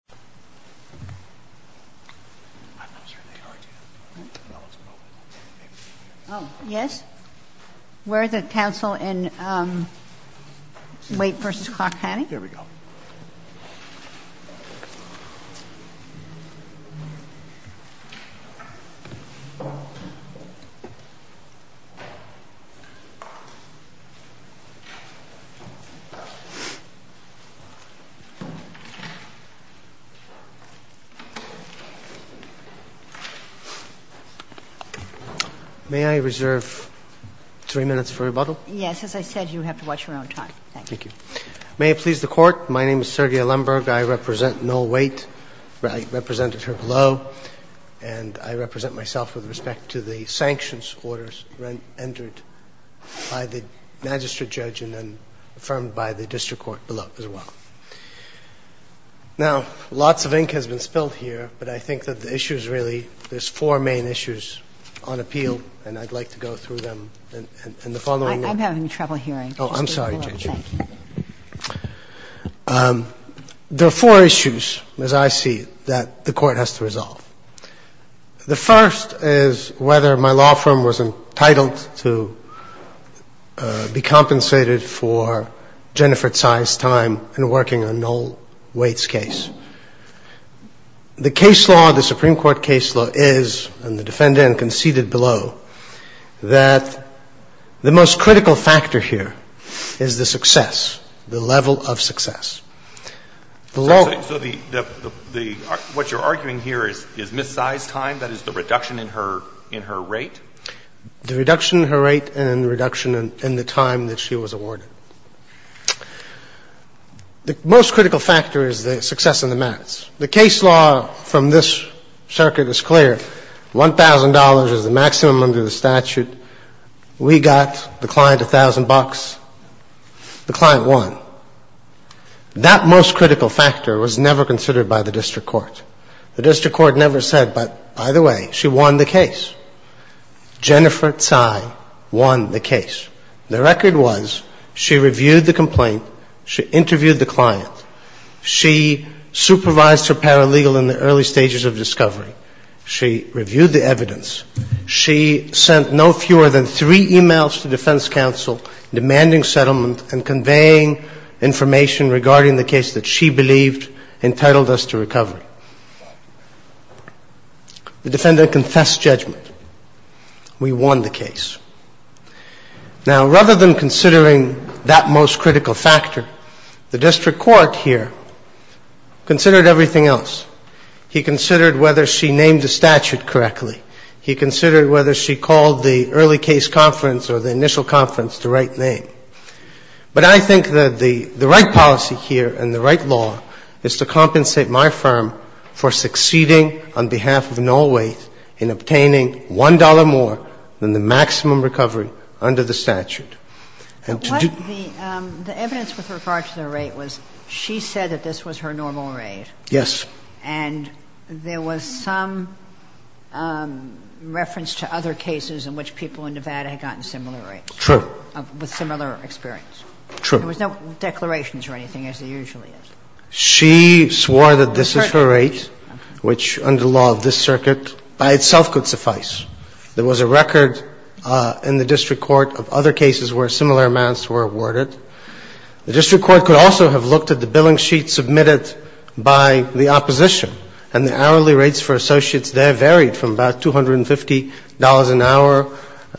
913-634-9711 4 6 7 6 9 7 8 9 1 2 1 2 1 2 1 3 4 4 5 6 7 7 6 7 9 9 9 9 9 9 9 9 9 9 9 9 9 Now, lots of ink has been spilled here, but I think that there are four main issues on appeal and I would like to go through them in the following lecture. There are four issues that the court has to resolve. The first is whether my law firm was entitled that the court has to resolve. to be compensated for Jennifer Tsai's time in working on Noel Waits' case. The case law, the Supreme Court case law, is, and the defendant conceded below, that the most critical factor here is the success, the level of success. So, what you're arguing here is Ms. Tsai's time, that is, the reduction in her rate? The reduction in her rate and the reduction in the time that she was awarded. The most critical factor is the success and the merits. The case law from this circuit is clear. One thousand dollars is the maximum under the statute. We got the client a thousand bucks. The client won. That most critical factor was never considered by the district court. The district court never said, by the way, she won the case. Jennifer Tsai won the case. The record was she reviewed the complaint, she interviewed the client, she supervised her paralegal in the early stages of discovery, she reviewed the evidence, she sent no fewer than three e-mails to defense counsel demanding settlement and conveying information regarding the case that she believed entitled us to recovery. The defendant confessed judgment. We won the case. Now, rather than considering that most critical factor, the district court here considered everything else. He considered whether she named the statute correctly. He considered whether she called the early case conference or the initial conference the right name. But I think that the right policy here and the right law is to compensate my firm for succeeding on behalf of Nolwaith in obtaining one dollar more than the maximum recovery under the statute. The evidence with regard to the rate was she said that this was her normal rate. Yes. And there was some reference to other cases in which people in Nevada had gotten similar rates. True. With similar experience. True. There was no declarations or anything as there usually is. She swore that this is her rate, which under the law of this circuit by itself could suffice. There was a record in the district court of other cases where similar amounts were awarded. The district court could also have looked at the billing sheet submitted by the opposition and the hourly rates for associates there varied from about $250 an hour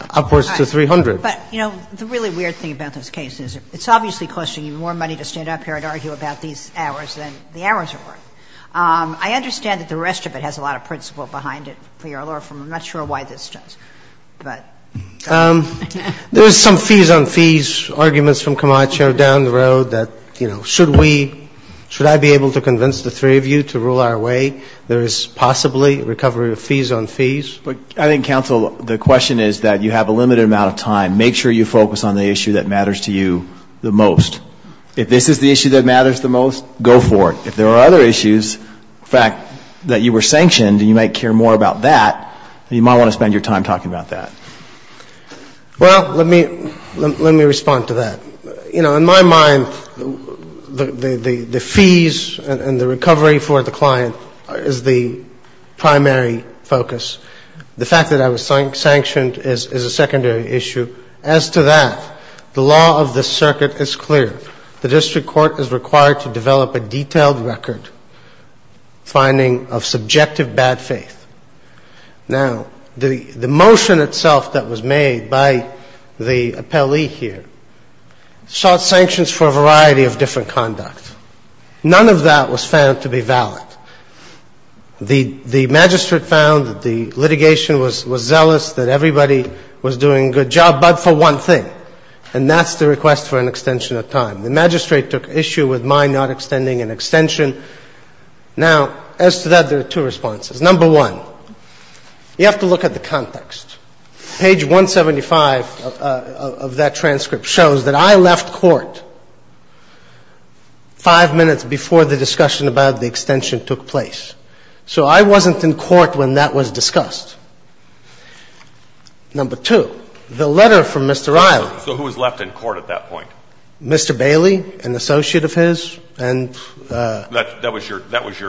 upwards to $300. But, you know, the really weird thing about this case is it's obviously costing you more money to stand up here and argue about these hours than the hours are worth. I understand that the rest of it has a lot of principle behind it, for your law firm. I'm not sure why this does. But... There's some fees on fees arguments from Camacho down the road that, you know, should we, should I be able to convince the three of you to rule our way? There is possibly recovery of fees on fees. I think, counsel, the question is that you have a limited amount of time. Make sure you focus on the issue that matters to you the most. If this is the issue that matters the most, go for it. If there are other issues, in fact, that you were sanctioned and you might care more about that, you might want to spend your time talking about that. Well, let me respond to that. You know, in my mind, the fees and the recovery for the client is the primary focus. The fact that I was sanctioned is a secondary issue. As to that, the law is clear. The district court is required to develop a detailed record finding of subjective bad faith. Now, the motion itself says that the district court itself that was made by the appellee here sought sanctions for a variety of different conduct. None of that was found to be valid. The magistrate found that the litigation was zealous, that everybody was doing a good job, but for one thing, and that's the request for an extension of time. The magistrate took issue with my not extending an extension. Now, as to that, there are two responses. Number one, you have to look at the context. Page 175 of that transcript shows that I left court five minutes before the discussion about the extension took place. So I wasn't in court when that was discussed. Number two, the letter from Mr. Riley. So who was left in court at that point? Mr. Bailey, an associate of his, and that was your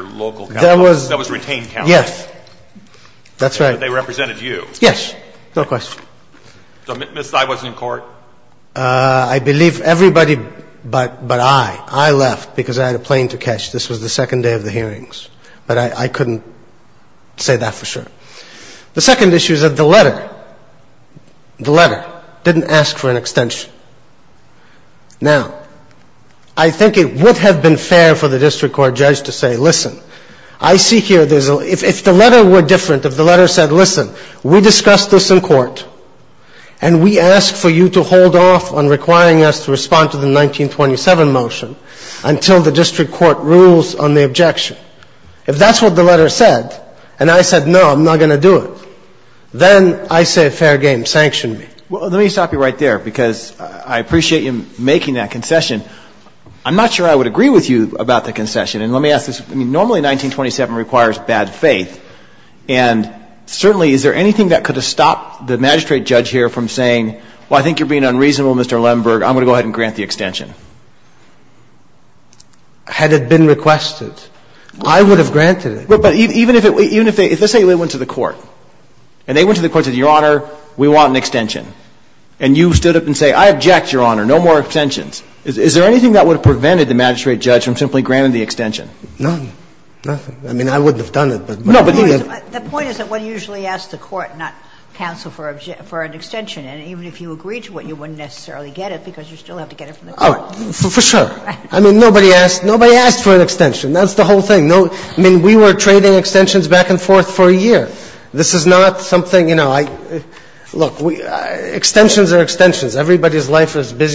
local county. That was retained county. Yes. That's right. They represented you. Yes. No question. So Ms. Sy wasn't in court? I believe everybody but I, I left because I had a plane to catch. This was the second day of the hearings. But I couldn't say that for sure. The second issue is that the letter, the letter didn't ask for an extension. Now, I think it would have been fair for the district court judge to say, listen, I see here, if the letter were different, if the letter said, listen, we discussed this in court, and I said, no, I'm not going to do it, then I say fair game, sanction me. Well, let me stop you right there because I appreciate you making that concession. I'm not sure I would agree with you about the concession. Normally 1927 requires bad faith. And certainly, is there anything that could have stopped the magistrate judge here from saying, well, I think you're being unreasonable, Mr. Lemberg, I'm going to grant the extension. Had it been requested, I would have granted it. But even if they went to the court, and they went to the court and said, I object, Your Honor, no more extensions. Is there anything that would have prevented the magistrate judge from simply granting the extension? Nothing. I mean, I wouldn't have done it. The point is that one usually asks the court, not counsel, for an extension. And even if you agreed to it, and the magistrate is busy,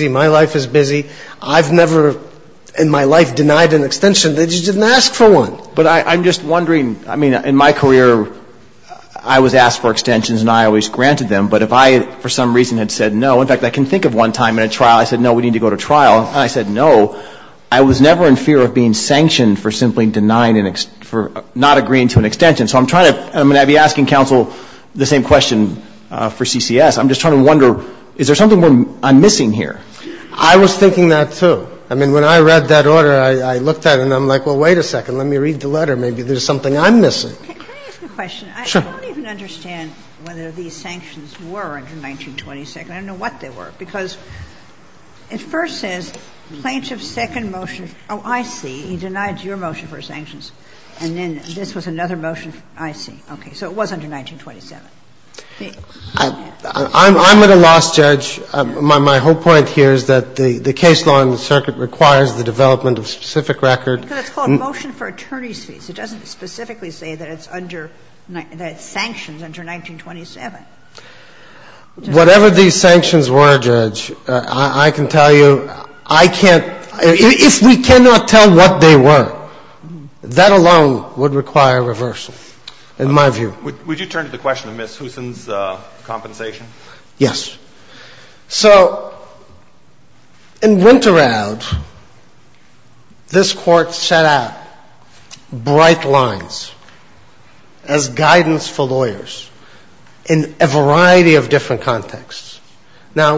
my life is busy, I've never in my life denied an extension. They just didn't ask for one. But I'm just wondering, I mean, in my career, I was asked for extensions, and I always granted them. But if I, for some reason, had said no, in fact, I can think of one time in a trial, I said no, we need to go to trial, and I said no, I was never in fear of being sanctioned for simply not agreeing to an extension. So I'm going to be asking counsel the same question for Now,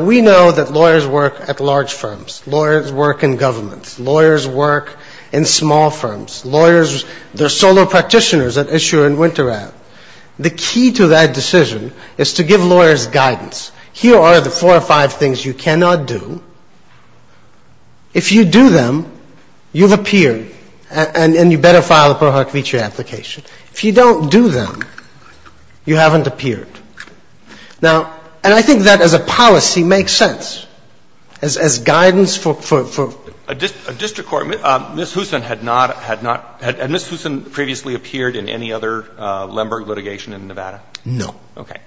we know that lawyers work at large firms. work in governments. Lawyers work in small firms. Lawyers, they're solo practitioners at issue and winter ad. The key to that decision is to give lawyers guidance. Here are the four or five things you cannot do. If you do them, you've appeared, and you better file the pro hoc feature application. If you don't do them, you haven't appeared. And I think that as a policy makes sense as guidance for a district court. A district court, Ms. Huson previously appeared in any other litigation in Nevada? No. Okay.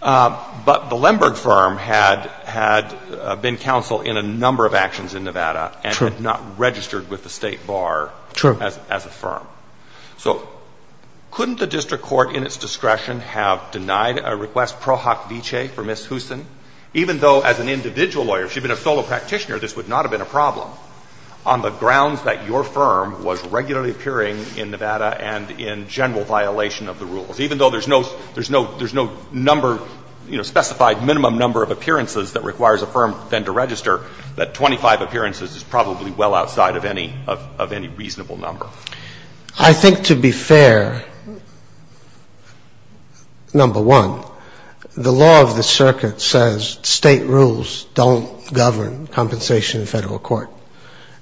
But the Lemberg firm had been counsel in a number of actions in Nevada and had not registered with the state bar as a firm. So couldn't the district court have denied a request for Ms. Huson even though this would not have been a problem on the part the district court? I think to be fair, number one, the law of the circuit says state rules don't govern compensation in federal court.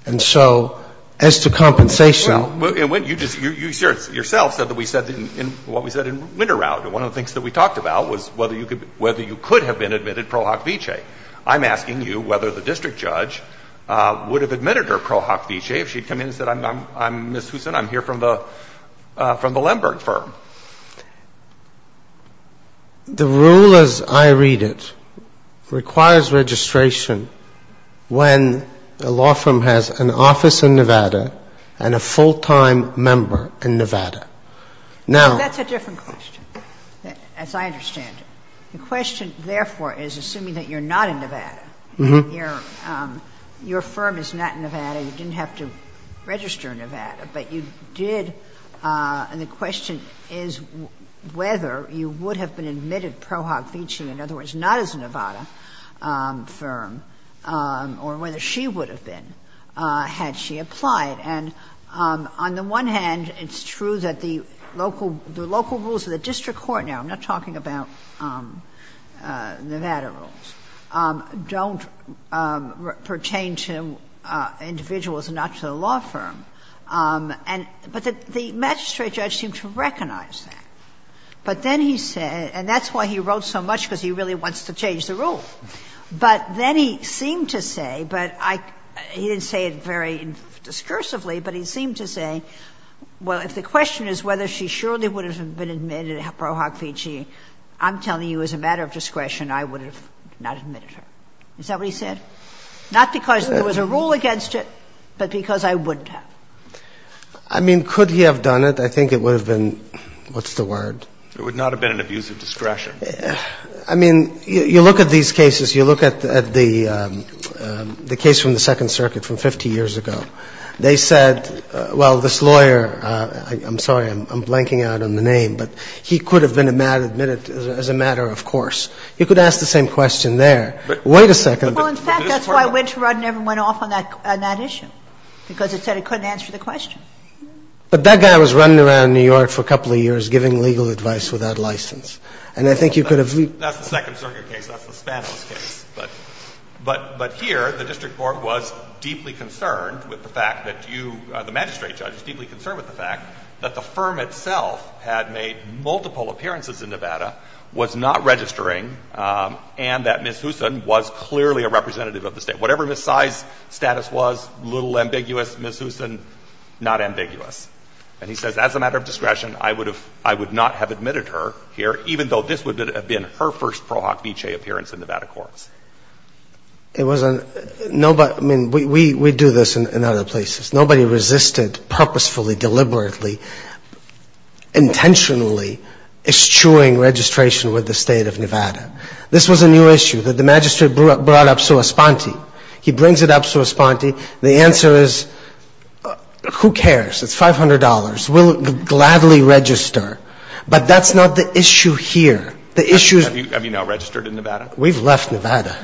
And so as to compensation you have to have a law firm in Nevada and a full time office in Nevada and a full time office in Nevada and a full time member in Nevada. Now that's a different question as I understand it. The question therefore is assuming that you're not in Nevada and your firm is not in Nevada, you didn't have to register in Nevada, but you did and the question is whether you would have been admitted pro hoc vici, in other words, not as a Nevada firm, or whether she would have been had she applied. And on the one hand it's true that the local rules of the district court now, I'm not talking about Nevada rules, don't pertain to Nevada Nevada rules. And on the other hand he wrote so much because he really wants to change the rules. But then he seemed to say, he didn't say it very discursively, but he seemed to say, well, if the question is whether she surely would have been admitted pro hoc vici, I'm telling you as a matter of discretion, I would have not admitted her. Is that what he said? Not because there was a rule against it, but because I wouldn't have. I mean, could he have been admitted as a matter of course? You could ask the same question there. Wait a second. In fact, that's why Winterrod never went off on that issue because it said it couldn't answer the question. But that guy was running around New York for a couple of years giving legal advice without license. That's the second circuit case. But here the district court was deeply concerned with the fact that the firm itself had made multiple appearances in Nevada was not registering and that Ms. Huson was clearly a representative of the state. Whatever Ms. Sy's status was, little ambiguous, Ms. Huson not ambiguous. And he says as a matter of discretion, I would not have admitted her here even though this would have been her first appearance in Nevada. This was a new issue that the magistrate brought up. The answer is who cares? It's $500. We'll gladly register. But that's not the issue here. We've left Nevada.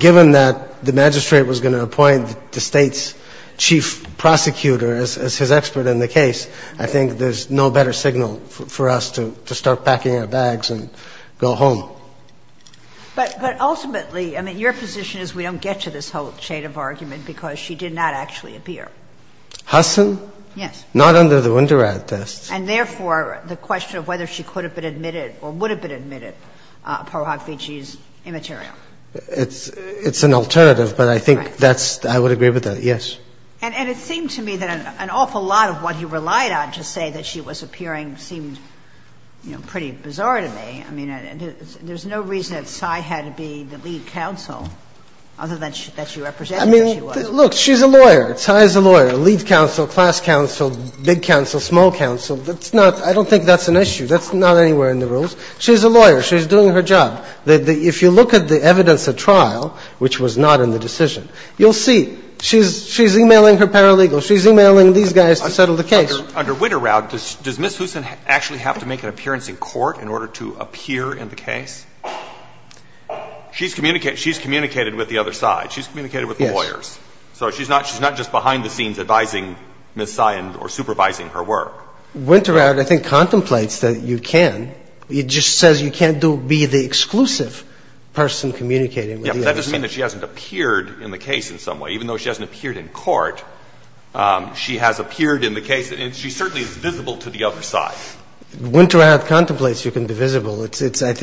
Given that the magistrate was going to appoint the state's chief prosecutor as his expert in the case, I think there's no better signal for us to start packing our bags and go home. But ultimately your position is we don't get to this whole chain of argument because she did not actually appear. Huson? Yes. Not under the Wunderrad tests. And therefore the question of whether she could have been admitted or would have been admitted is immaterial. It's an alternative, but I think I would agree with that, yes. And it seemed to me that an awful lot of what you relied on seemed pretty bizarre to me. There's no reason that Cy had to be the lead judge this case. I don't think that's an issue. That's not anywhere in the rules. She's a lawyer. She's doing her job. If you look at the evidence at trial, which was not in the decision, you'll see she's emailing her paralegals, she's emailing her lawyers, she's with them. She's communicating with the lawyers. She's communicating with the other side. She's communicating with the lawyers. She's not just behind the scenes advising Ms. Cy or supervising her work. She contemplates that you can't be the person communicating with the other side. That doesn't mean she hasn't appeared in the case in some way. Even though she hasn't appeared in court, she has appeared in the case and she certainly is visible to the other side. Winterhout contemplates you can be the other side.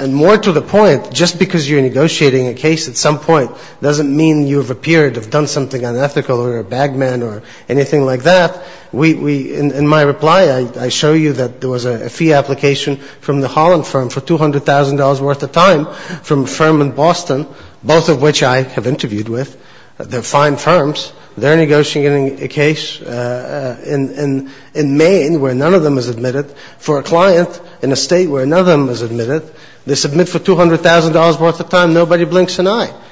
And more to the point, just because you're negotiating a case at some point doesn't mean you've appeared or done something unethical or a bagman or anything like that. In my reply I show you there was a fee application from the Holland firm for $200,000 worth of time. Nobody blinks an eye.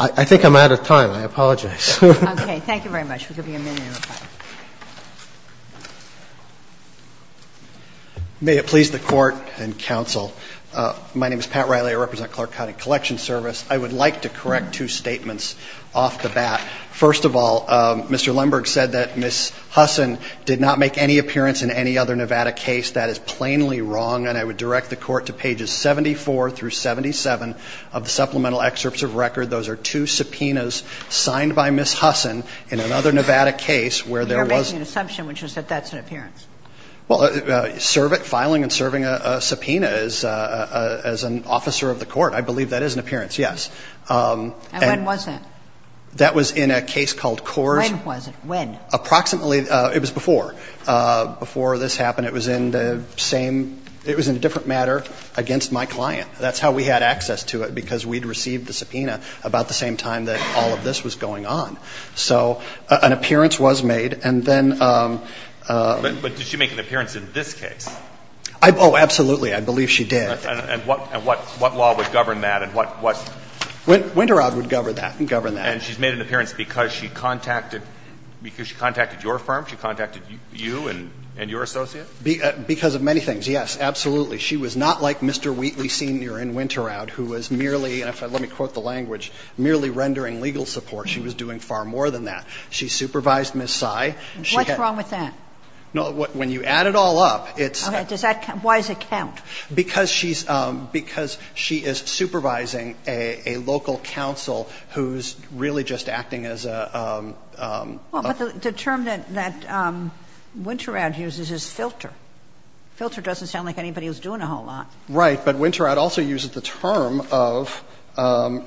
I think I'm out of time. I apologize. Okay. Thank you very much. May it please the Court and counsel. My name is Pat Riley. I represent Clark County Collection Service. I would like to correct two statements off the bat. First of all, Mr. Riley, the Supreme Court has submitted two subpoenas signed by Ms. Hussen. You're making an assumption an appearance. Filing and serving as a subpoena as an officer of the court, I believe that is an appearance. Yes. And when was that? That was in a case called Coors. When was it? When? Approximately, it was before. Before this happened, it was in a different matter against my client. That's how we had access to it because we received the subpoena about the same time that all of this was going on. So an appearance was made. But did she make an appearance in this case? Oh, absolutely. I believe she did. And what law would govern that? Winteraud would govern that. And she's made an appearance because she contacted your firm, you and your associate? Because of many things, yes, absolutely. She was not like Mr. Wheatley who was merely rendering legal support. She was doing far more than that. She supervised Ms. Tsai. What's wrong with that? When you add it all up. Why does it count? Because she is supervising a local counsel who is really just acting as a The term that I would not do it. The question, however, is not whether it's kosher or not. The question is whether doing that constituted, of course, in the other case, constituted an appearance in weight. The answer to that is no. Because when she signed the subpoenas, the weight of the case, she did not sign the course subpoenas. So that's point one. your Honor hit it right on. You have to supervise lawyers. You have to supervise lawyers. You have to supervise lawyers. You have to supervise lawyers if you're doing a responsible law firm. I've worked at a Texas firm. The management committee is composed of lawyers in Houston and Dallas and Austin. I'm in New York. All of my colleagues are in New York. One of our partners was on that committee. So you have to supervise lawyers to render excellent legal services to the client to win their cases. Now you're over your one minute. Thank you, counsel. The case of Wade v. Clark County is submitted. We'll go to Bustamante v. Colvin. Thank you, counsel. much. to